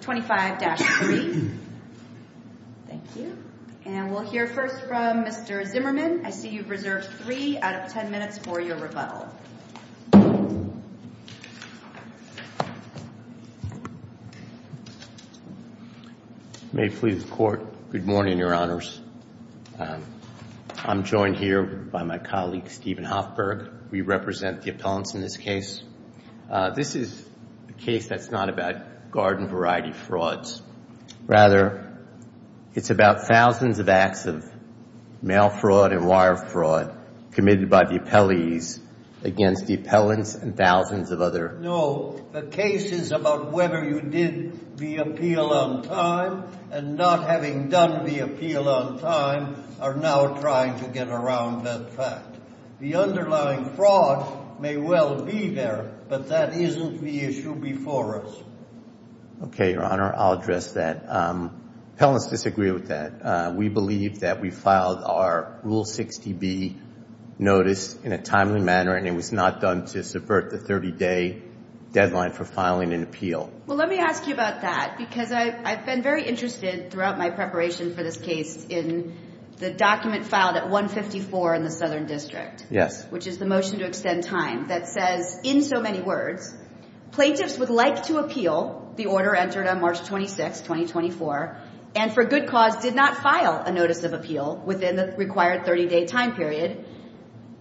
25-3. Thank you. And we'll hear first from Mr. Zimmerman. I see you've reserved 3 out of 10 minutes for your rebuttal. May it please the Court. Good morning, Your Honors. I'm joined here by my colleague, Stephen Hoffberg. We represent the appellants in this case. This is a case that's not about garden variety frauds. Rather, it's about thousands of acts of mail fraud and wire fraud committed by the appellees against the appellants and thousands of other... No, the case is about whether you did the appeal on time and not having done the appeal on time are now trying to get around that fact. The underlying fraud may well be there, but that isn't the issue before us. Okay, Your Honor. I'll address that. Appellants disagree with that. We believe that we filed our Rule 60B notice in a timely manner, and it was not done to subvert the 30-day deadline for filing an appeal. Well, let me ask you about that, because I've been very interested throughout my preparation for this case in the document filed at 154 in the Southern District, which is the motion to extend time that says, in so many words, plaintiffs would like to appeal the order entered on March 26, 2024, and for good cause did not file a notice of appeal within the required 30-day time period,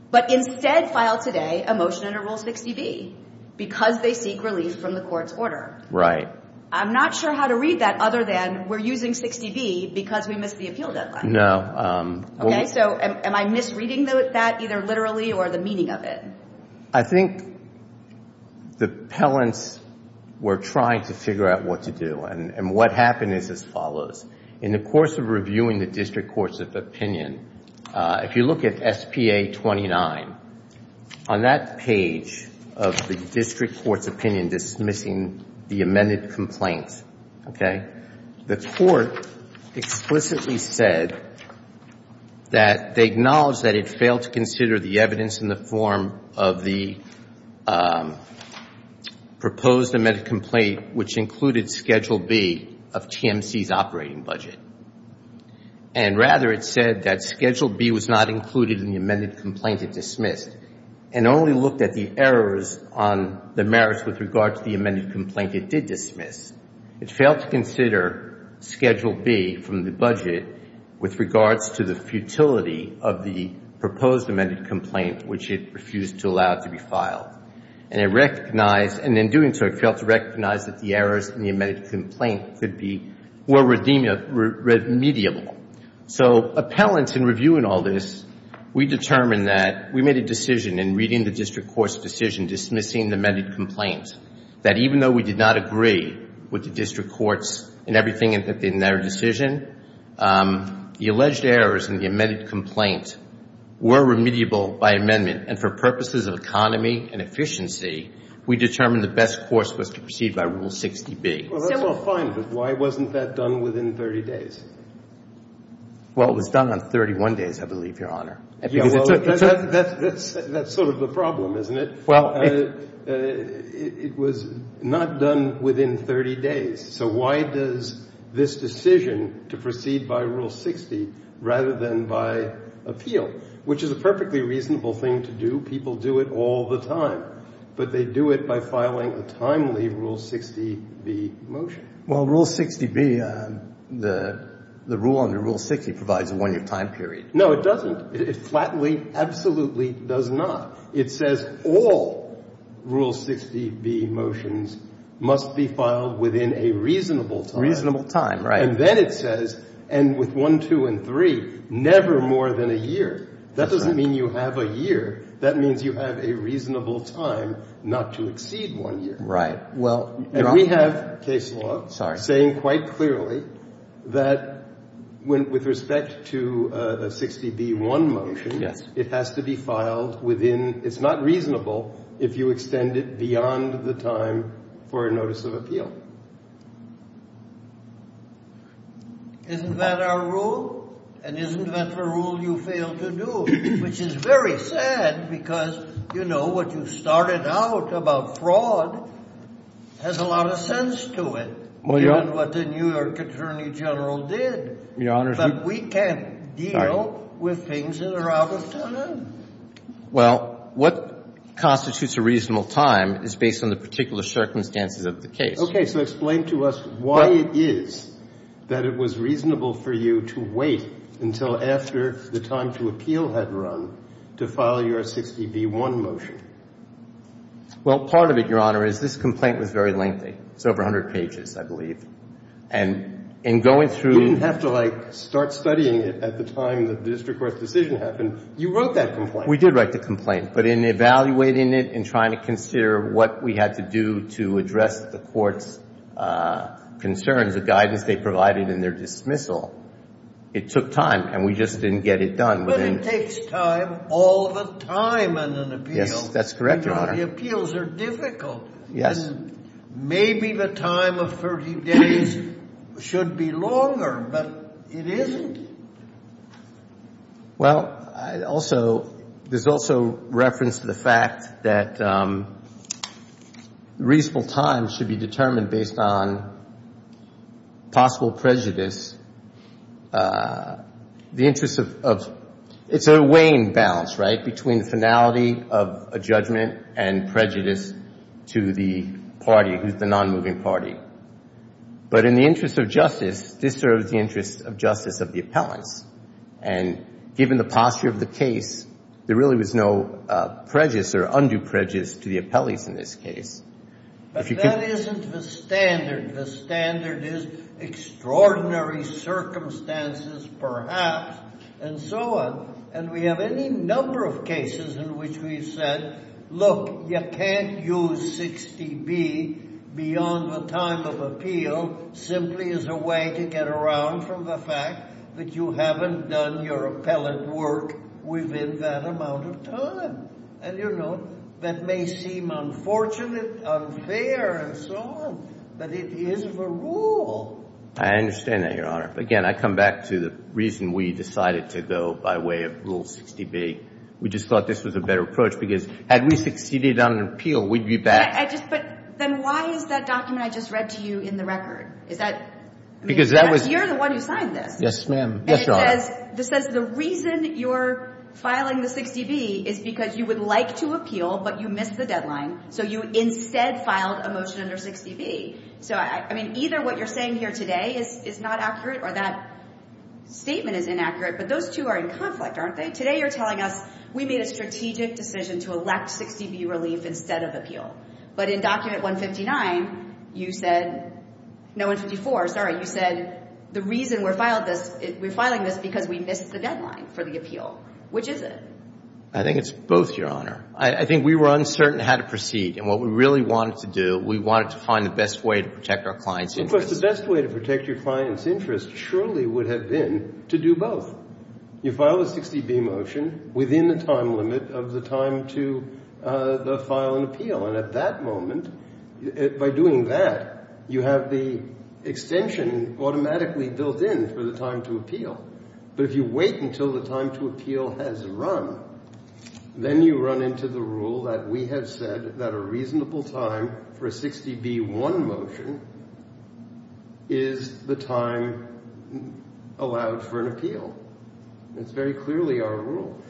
but instead filed today a motion under Rule 60B because they seek relief from the court's order. Right. I'm not sure how to read that other than we're using 60B because we missed the appeal deadline. No. Okay, so am I misreading that either literally or the meaning of it? I think the appellants were trying to figure out what to do, and what happened is as follows. In the page of the district court's opinion dismissing the amended complaint, okay, the court explicitly said that they acknowledged that it failed to consider the evidence in the form of the proposed amended complaint, which included Schedule B of TMC's operating budget, and rather it said that Schedule B was not included in the amended complaint and dismissed, and only looked at the errors on the merits with regard to the amended complaint it did dismiss. It failed to consider Schedule B from the budget with regards to the futility of the proposed amended complaint, which it refused to allow to be filed. And it recognized, and in doing so it failed to recognize that the errors in the amended complaint could be more redeemable. So appellants in reviewing all this, we determined that the appellants had made a decision in reading the district court's decision dismissing the amended complaint that even though we did not agree with the district courts in everything in their decision, the alleged errors in the amended complaint were remediable by amendment, and for purposes of economy and efficiency, we determined the best course was to proceed by Rule 60B. Well, that's all fine, but why wasn't that done within 30 days? Well, it was done on 31 days, I believe, Your Honor. That's sort of the problem, isn't it? It was not done within 30 days. So why does this decision to proceed by Rule 60 rather than by appeal, which is a perfectly reasonable thing to do? People do it all the time. But they do it by filing a timely Rule 60B motion. Well, Rule 60B, the rule under Rule 60 provides a one-year time period. No, it doesn't. It flatly, absolutely does not. It says all Rule 60B motions must be filed within a reasonable time. Reasonable time, right. And then it says, and with 1, 2, and 3, never more than a year. That doesn't mean you have a year. That means you have a reasonable time not to exceed one year. Right. Well, Your Honor. That case law is saying quite clearly that with respect to a 60B1 motion, it has to be filed within — it's not reasonable if you extend it beyond the time for a notice of appeal. Isn't that our rule? And isn't that the rule you fail to do, which is very sad because, you know, what you started out about fraud has a lot of sense to me. Well, Your Honor. But we can't deal with things that are out of time. Well, what constitutes a reasonable time is based on the particular circumstances of the case. Okay. So explain to us why it is that it was reasonable for you to wait until after the time to appeal had run to file your 60B1 motion. Well, part of it, Your Honor, is this complaint was very lengthy. It's over 100 pages, I believe. And in going through — You didn't have to, like, start studying it at the time the district court's decision happened. You wrote that complaint. We did write the complaint. But in evaluating it and trying to consider what we had to do to address the court's concerns, the guidance they provided in their dismissal, it took time. And we just didn't get it done within — It takes time all the time in an appeal. Yes, that's correct, Your Honor. You know, the appeals are difficult. And maybe the time of 30 days should be longer, but it isn't. Well, I also — there's also reference to the fact that reasonable time should be determined based on possible prejudice. The interest of — it's a weighing balance, right, between the finality of a judgment and prejudice to the party who's the nonmoving party. But in the interest of justice, this serves the interest of justice of the appellants. And given the posture of the case, there really was no prejudice or undue prejudice to the appellees in this case. But that isn't the standard. The standard is extraordinary circumstances, perhaps, and so on. And we have any number of cases in which we've said, look, you can't use 60B beyond the time of appeal simply as a way to get around from the fact that you haven't done your appellant work within that amount of time. And, you know, that may seem unfortunate, unfair, and so on, but it is the rule. I understand that, Your Honor. Again, I come back to the reason we decided to go by way of Rule 60B. We just thought this was a better approach, because had we succeeded on an appeal, we'd be back — I just — but then why is that document I just read to you in the record? Is that — Because that was — The reason you're filing the 60B is because you would like to appeal, but you missed the deadline, so you instead filed a motion under 60B. So, I mean, either what you're saying here today is not accurate, or that statement is inaccurate, but those two are in conflict, aren't they? Today you're telling us we made a strategic decision to elect 60B relief instead of appeal. But in document 159, you said — no, 154, sorry. You said the reason we're filing this is because we missed the deadline for the appeal. Which is it? I think it's both, Your Honor. I think we were uncertain how to proceed. And what we really wanted to do, we wanted to find the best way to protect our clients' interests. Of course, the best way to protect your clients' interests surely would have been to do both. You file a 60B motion within the time limit of the time to file an appeal. And at that moment, by doing that, you have the extension automatically built in for the time to appeal. But if you wait until the time to appeal has run, then you run into the rule that we have said that a reasonable time for a 60B-1 motion is the time allowed for an appeal. It's very clearly our rule.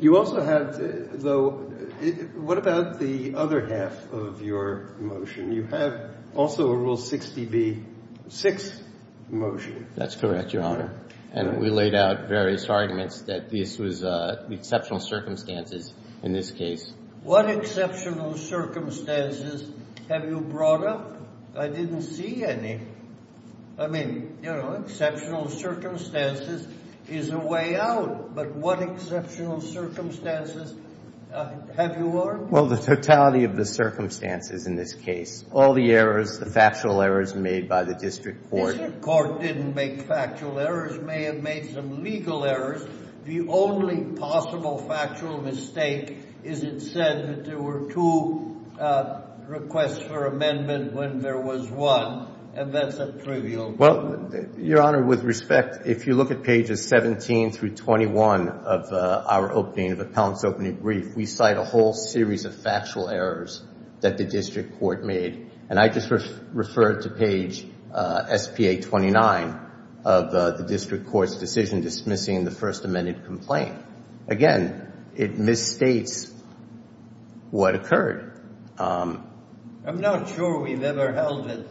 You also have, though — what about the other half of your motion? You have also a Rule 60B-6 motion. That's correct, Your Honor. And we laid out various arguments that this was exceptional circumstances in this case. What exceptional circumstances have you brought up? I didn't see any. I mean, you know, exceptional circumstances is a way out. But what exceptional circumstances have you worked? Well, the totality of the circumstances in this case. All the errors, the factual errors made by the district court — District court didn't make factual errors. May have made some legal errors. The only possible factual mistake is it said that there were two requests for amendment when there was one. And that's a trivial mistake. Well, Your Honor, with respect, if you look at pages 17 through 21 of our opening, of Appellant's opening brief, we cite a whole series of factual errors that the district court made. And I just referred to page S.P.A. 29 of the district court's decision dismissing the First Amendment complaint. Again, it misstates what occurred. I'm not sure we've ever held that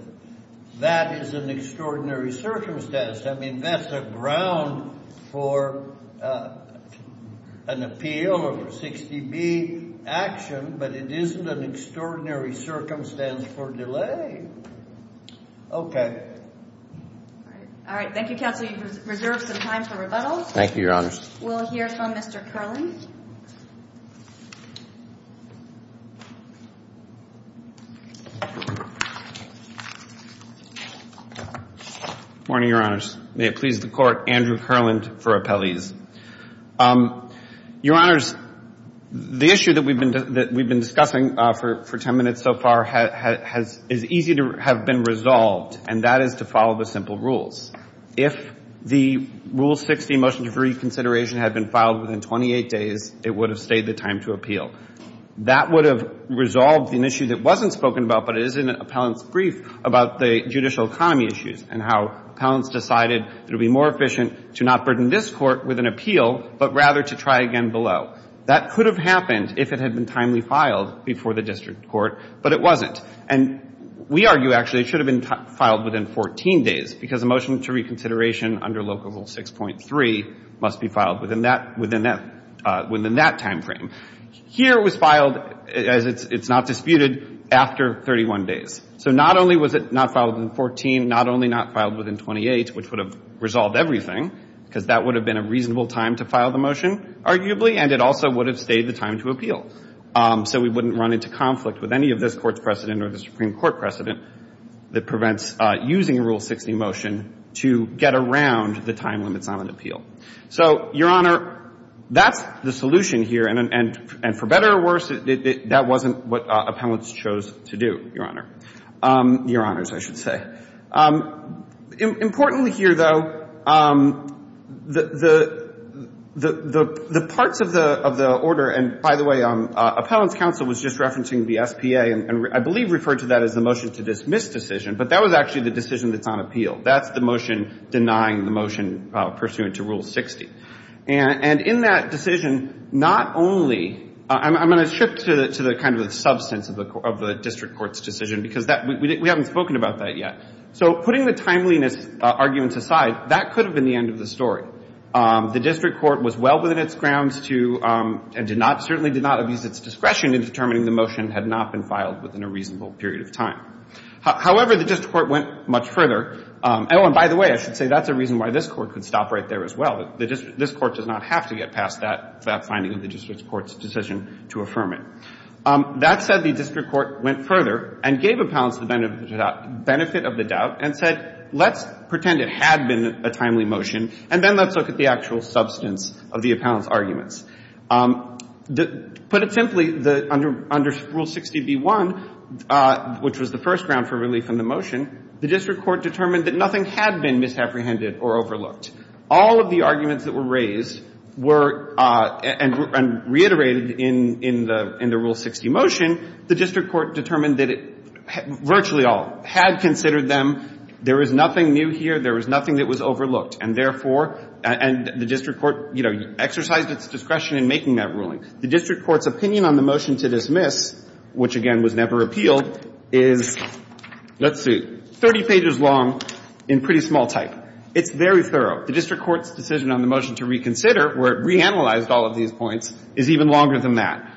that is an extraordinary circumstance. I mean, that's the ground for an appeal or 60B action. But it isn't an extraordinary circumstance for delay. Okay. All right. Thank you, Counsel. You've reserved some time for rebuttals. Thank you, Your Honor. We'll hear from Mr. Kerlin. Good morning, Your Honors. May it please the Court. Andrew Kerlin for Appellees. Your Honors, the issue that we've been discussing for ten minutes so far is easy to have been resolved, and that is to follow the simple rules. If the Rule 60 motion for reconsideration had been filed within 28 days, it would have stayed the time to appeal. That would have resolved an issue that wasn't spoken about, but it is in Appellant's brief, about the judicial economy issues and how Appellant's decided it would be more efficient to not burden this Court with an appeal, but rather to try again below. That could have happened if it had been timely filed before the district court, but it wasn't. And we argue, actually, it should have been filed within 14 days, because a motion to reconsideration under Local Rule 6.3 must be filed within that timeframe. Here it was filed, as it's not disputed, after 31 days. So not only was it not filed within 14, not only not filed within 28, which would have resolved everything, because that would have been a reasonable time to file the motion, arguably, and it also would have stayed the time to appeal. So we wouldn't run into conflict with any of this Court's precedent or the Supreme Court precedent that prevents using a Rule 60 motion to get around the time limits on an appeal. So, Your Honor, that's the solution here, and for better or worse, that wasn't what Appellant's chose to do, Your Honor. Your Honors, I should say. Importantly here, though, the parts of the order, and by the way, Appellant's counsel was just referencing the SPA, and I believe referred to that as the motion to dismiss decision, but that was actually the decision that's on appeal. That's the motion denying the motion pursuant to Rule 60. And in that decision, not only, I'm going to shift to the kind of substance of the district court's decision, because we haven't spoken about that yet. So putting the timeliness arguments aside, that could have been the end of the story. The district court was well within its grounds to, and certainly did not abuse its discretion in determining the motion had not been filed within a reasonable period of time. However, the district court went much further. Oh, and by the way, I should say that's a reason why this Court could stop right there as well. This Court does not have to get past that finding of the district court's decision to affirm it. That said, the district court went further and gave Appellant's the benefit of the doubt and said, let's pretend it had been a timely motion, and then let's look at the actual substance of the Appellant's arguments. To put it simply, under Rule 60b-1, which was the first ground for relief in the motion, the district court determined that nothing had been misapprehended or overlooked. All of the arguments that were raised were, and reiterated in the Rule 60 motion, the district court determined that it virtually all had considered them. There was nothing new here. There was nothing that was overlooked. And therefore, and the district court, you know, exercised its discretion in making that ruling. The district court's opinion on the motion to dismiss, which, again, was never appealed, is, let's see, 30 pages long in pretty small type. It's very thorough. The district court's decision on the motion to reconsider, where it reanalyzed all of these points, is even longer than that.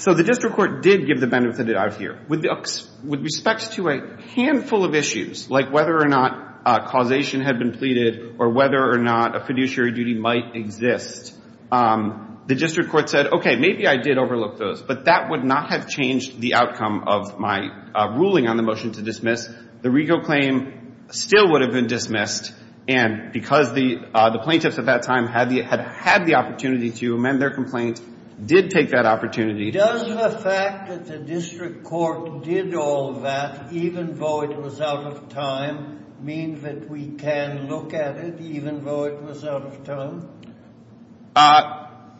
So the district court did give the benefit of the doubt here. With respect to a handful of issues, like whether or not causation had been pleaded or whether or not a fiduciary duty might exist, the district court said, okay, maybe I did overlook those, but that would not have changed the outcome of my ruling on the motion to dismiss. The Rego claim still would have been dismissed. And because the plaintiffs at that time had the opportunity to amend their complaint, did take that opportunity. Does the fact that the district court did all that, even though it was out of time, mean that we can look at it, even though it was out of time? I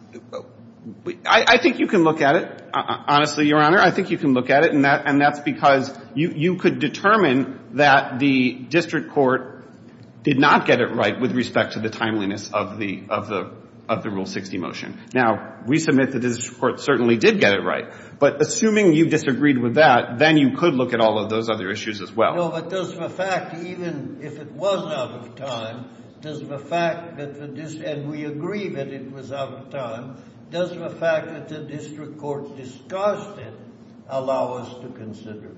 think you can look at it, honestly, Your Honor. I think you can look at it. And that's because you could determine that the district court did not get it right with respect to the timeliness of the Rule 60 motion. Now, we submit that the district court certainly did get it right. But assuming you disagreed with that, then you could look at all of those other issues as well. No, but does the fact, even if it was out of time, does the fact that the district, and we agree that it was out of time, does the fact that the district court discussed it allow us to consider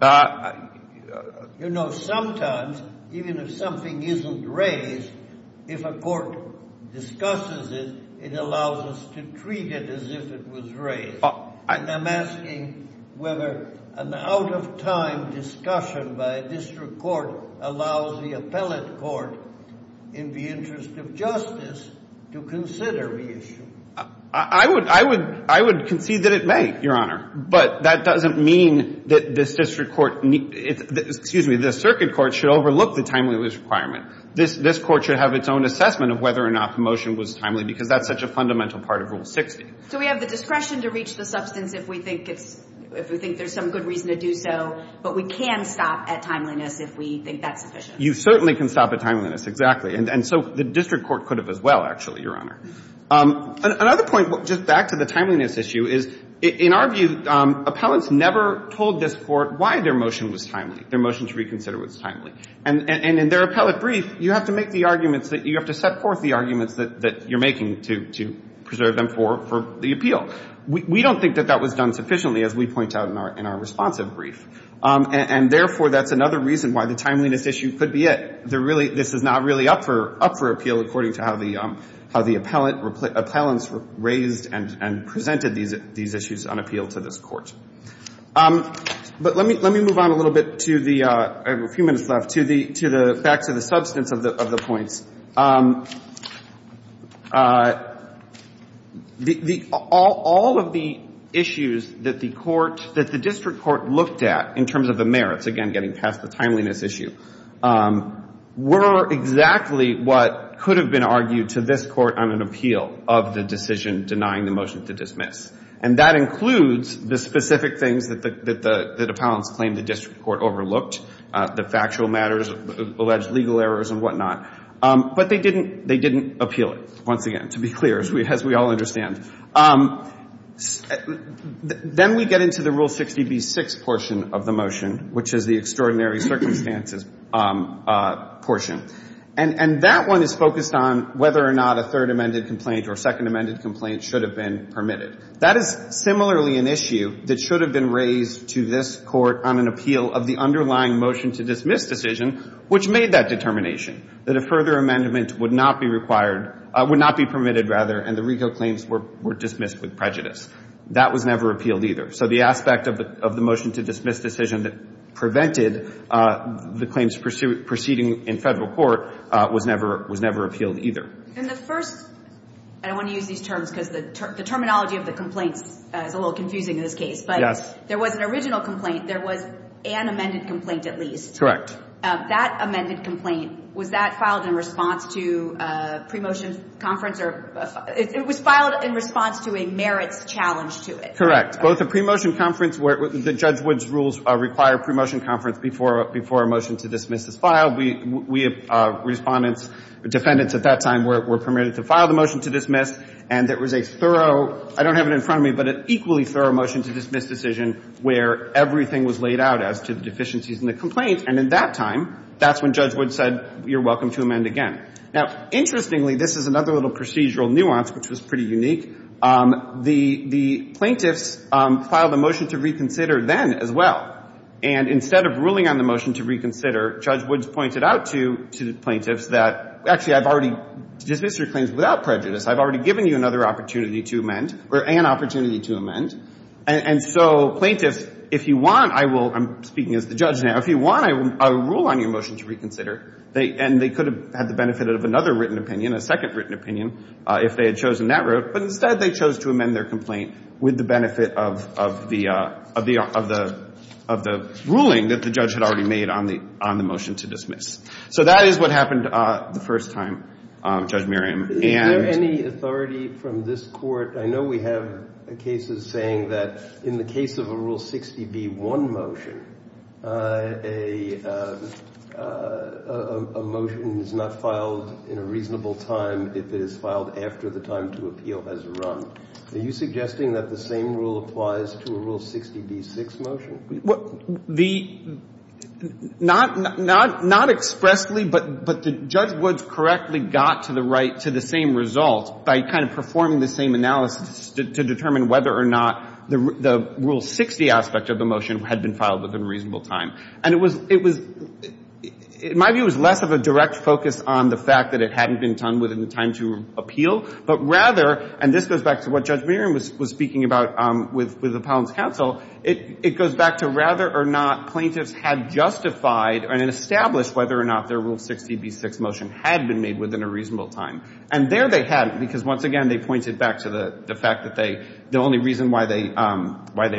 it? You know, sometimes, even if something isn't raised, if a court discusses it, it allows us to treat it as if it was raised. I'm asking whether an out-of-time discussion by a district court allows the appellate court, in the interest of justice, to consider the issue. I would concede that it may, Your Honor. But that doesn't mean that this district court need – excuse me, this circuit court should overlook the timeliness requirement. This court should have its own assessment of whether or not the motion was timely, because that's such a fundamental part of Rule 60. So we have the discretion to reach the substance if we think it's – if we think there's some good reason to do so. But we can stop at timeliness if we think that's sufficient. You certainly can stop at timeliness, exactly. And so the district court could have as well, actually, Your Honor. Another point, just back to the timeliness issue, is, in our view, appellants never told this Court why their motion was timely, their motion to reconsider was timely. And in their appellate brief, you have to make the arguments that – you have to set forth the arguments that you're making to preserve them for the appeal. We don't think that that was done sufficiently, as we point out in our responsive brief. And therefore, that's another reason why the timeliness issue could be it. There really – this is not really up for appeal, according to how the appellants raised and presented these issues on appeal to this Court. But let me move on a little bit to the – I have a few minutes left – to the – back to the substance of the points. All of the issues that the court – that the district court looked at in terms of the merits, again, getting past the timeliness issue, were exactly what could have been argued to this Court on an appeal of the decision denying the motion to dismiss. And that includes the specific things that the appellants claimed the district court overlooked, the factual matters, alleged legal errors and whatnot. But they didn't – they didn't appeal it, once again, to be clear, as we all understand. Then we get into the Rule 60b-6 portion of the motion, which is the extraordinary circumstances portion. And that one is focused on whether or not a third amended complaint or second amended complaint should have been permitted. That is similarly an issue that should have been raised to this Court on an appeal of the underlying motion to dismiss decision, which made that determination, that a further amendment would not be required – would not be permitted, rather, and the RICO claims were dismissed with prejudice. That was never appealed either. So the aspect of the motion to dismiss decision that prevented the claims proceeding in Federal court was never appealed either. And the first – and I want to use these terms because the terminology of the complaints is a little confusing in this case, but there was an original complaint, there was an amended complaint, at least. That amended complaint, was that filed in response to a pre-motion conference or – it was filed in response to a merits challenge to it. Correct. Both the pre-motion conference where the Judge Wood's rules require pre-motion to amend a motion to dismiss a claim. Now, interestingly, this is another little procedural nuance which was pretty unique. The plaintiffs filed a motion to reconsider then as well. And instead of ruling on the motion to reconsider, Judge Woods pointed out to the plaintiffs that, actually, I've already dismissed your claims without prejudice. I've already given you another opportunity to amend or an opportunity to amend. And so plaintiffs, if you want, I will – I'm speaking as the judge now. If you want a rule on your motion to reconsider, and they could have had the benefit of another written opinion, a second written opinion, if they had chosen that route, but instead they chose to amend their complaint with the benefit of the ruling that the So that is what happened the first time, Judge Merriam. Is there any authority from this Court – I know we have cases saying that in the case of a Rule 60b-1 motion, a motion is not filed in a reasonable time if it is filed after the time to appeal has run. Are you suggesting that the same rule applies to a Rule 60b-6 motion? The – not expressly, but Judge Woods correctly got to the right – to the same result by kind of performing the same analysis to determine whether or not the Rule 60 aspect of the motion had been filed within a reasonable time. And it was – my view is less of a direct focus on the fact that it hadn't been done within the time to appeal, but rather – and this goes back to what Judge Merriam was speaking about with Appellant's counsel – it goes back to rather or not plaintiffs had justified and established whether or not their Rule 60b-6 motion had been made within a reasonable time. And there they hadn't because, once again, they pointed back to the fact that they – the only reason why they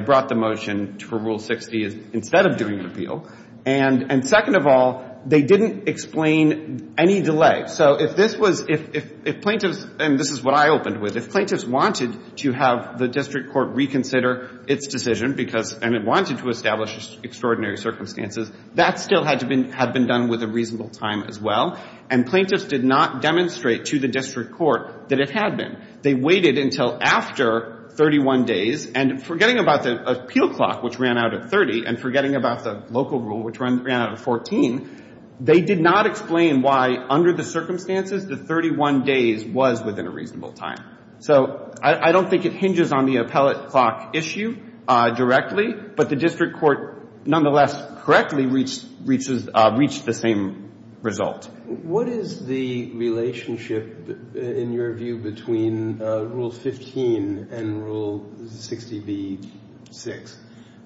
brought the motion to a Rule 60 is instead of doing an appeal. And second of all, they didn't explain any delay. So if this was – if plaintiffs – and this is what I opened with. If plaintiffs wanted to have the district court reconsider its decision because – and it wanted to establish extraordinary circumstances, that still had to be – had been done with a reasonable time as well. And plaintiffs did not demonstrate to the district court that it had been. They waited until after 31 days. And forgetting about the appeal clock, which ran out at 30, and forgetting about the local rule, which ran out at 14, they did not explain why, under the circumstances, the 31 days was within a reasonable time. So I don't think it hinges on the appellate clock issue directly, but the district court nonetheless correctly reached the same result. What is the relationship, in your view, between Rule 15 and Rule 60b-6?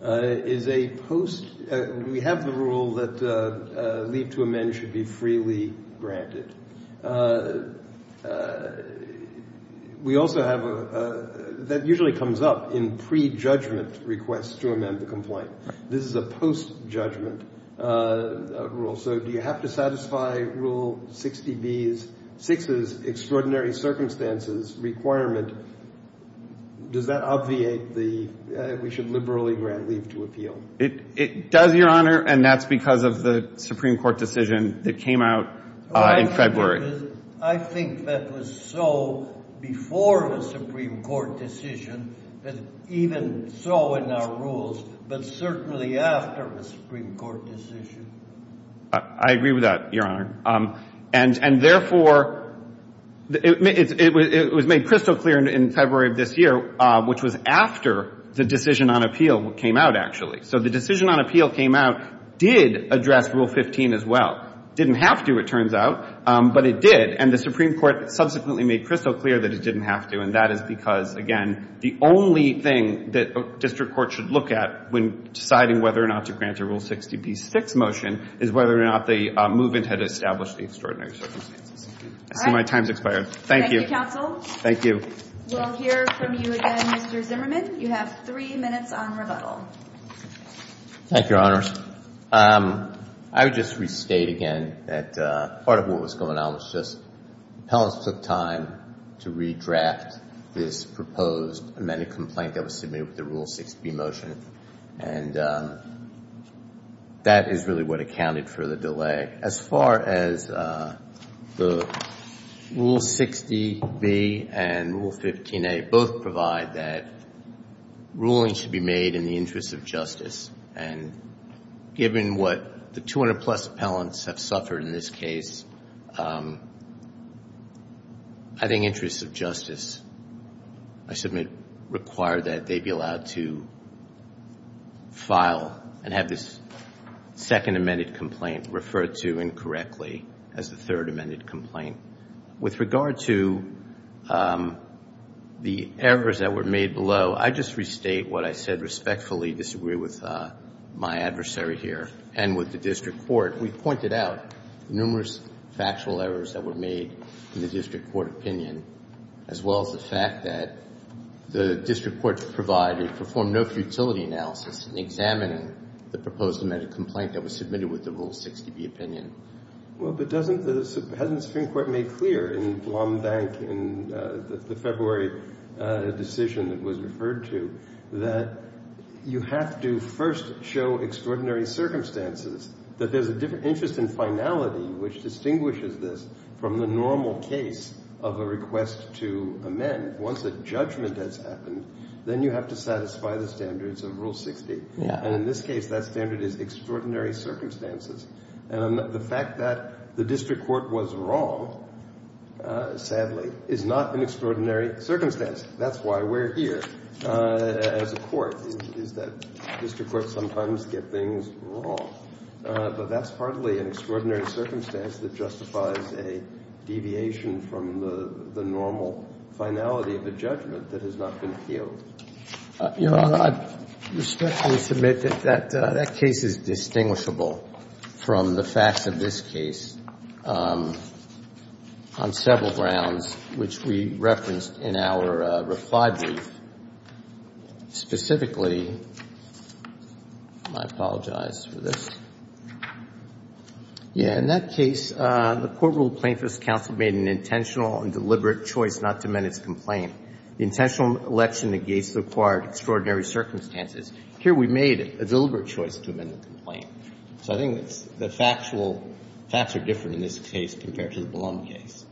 Is a post – we have the rule that leave to amend should be freely granted. We also have a – that usually comes up in prejudgment requests to amend the complaint. This is a post-judgment rule. So do you have to satisfy Rule 60b-6's extraordinary circumstances requirement? Does that obviate the – we should liberally grant leave to appeal? It does, Your Honor, and that's because of the Supreme Court decision that came out in February. I think that was so before the Supreme Court decision, and even so in our rules, but certainly after the Supreme Court decision. I agree with that, Your Honor. And therefore, it was made crystal clear in February of this year, which was after the decision on appeal came out, actually. So the decision on appeal came out, did address Rule 15 as well. Didn't have to, it turns out, but it did, and the Supreme Court subsequently made crystal clear that it didn't have to, and that is because, again, the only thing that a district court should look at when deciding whether or not to grant a Rule 60b-6 motion is whether or not the movement had established the extraordinary circumstances. I see my time's expired. Thank you. Thank you, counsel. Thank you. We'll hear from you again, Mr. Zimmerman. You have three minutes on rebuttal. Thank you, Your Honors. I would just restate again that part of what was going on was just appellants took time to redraft this proposed amended complaint that was submitted with the Rule 60b motion, and that is really what accounted for the delay. As far as the Rule 60b and Rule 15a, both provide that ruling should be made in the interest of justice, and given what the 200-plus appellants have suffered in this case, I think interest of justice, I submit, require that they be allowed to file and have this second amended complaint referred to incorrectly as the third amended complaint. With regard to the errors that were made below, I just restate what I said respectfully, disagree with my adversary here and with the district court. We pointed out numerous factual errors that were made in the district court opinion, as well as the fact that the district court provided, performed no futility analysis in examining the proposed amended complaint that was submitted with the Rule 60b opinion. Well, but doesn't the Supreme Court make clear in Blombank in the February decision that was referred to you have to first show extraordinary circumstances, that there's a different interest in finality which distinguishes this from the normal case of a request to amend. Once a judgment has happened, then you have to satisfy the standards of Rule 60. And in this case, that standard is extraordinary circumstances. And the fact that the district court was wrong, sadly, is not an extraordinary circumstance. That's why we're here as a court, is that district courts sometimes get things wrong. But that's partly an extraordinary circumstance that justifies a deviation from the normal finality of a judgment that has not been appealed. Your Honor, I respectfully submit that that case is distinguishable from the facts of this case on several grounds, which we referenced in our reply brief. Specifically, I apologize for this. Yeah. In that case, the court ruled Plaintiff's counsel made an intentional and deliberate choice not to amend its complaint. The intentional election negates the required extraordinary circumstances. Here we made a deliberate choice to amend the complaint. So I think the facts are different in this case compared to the Blum case.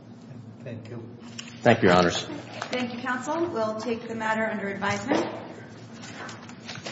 Thank you. Thank you, Your Honors. Thank you, counsel. We'll take the matter under advisement.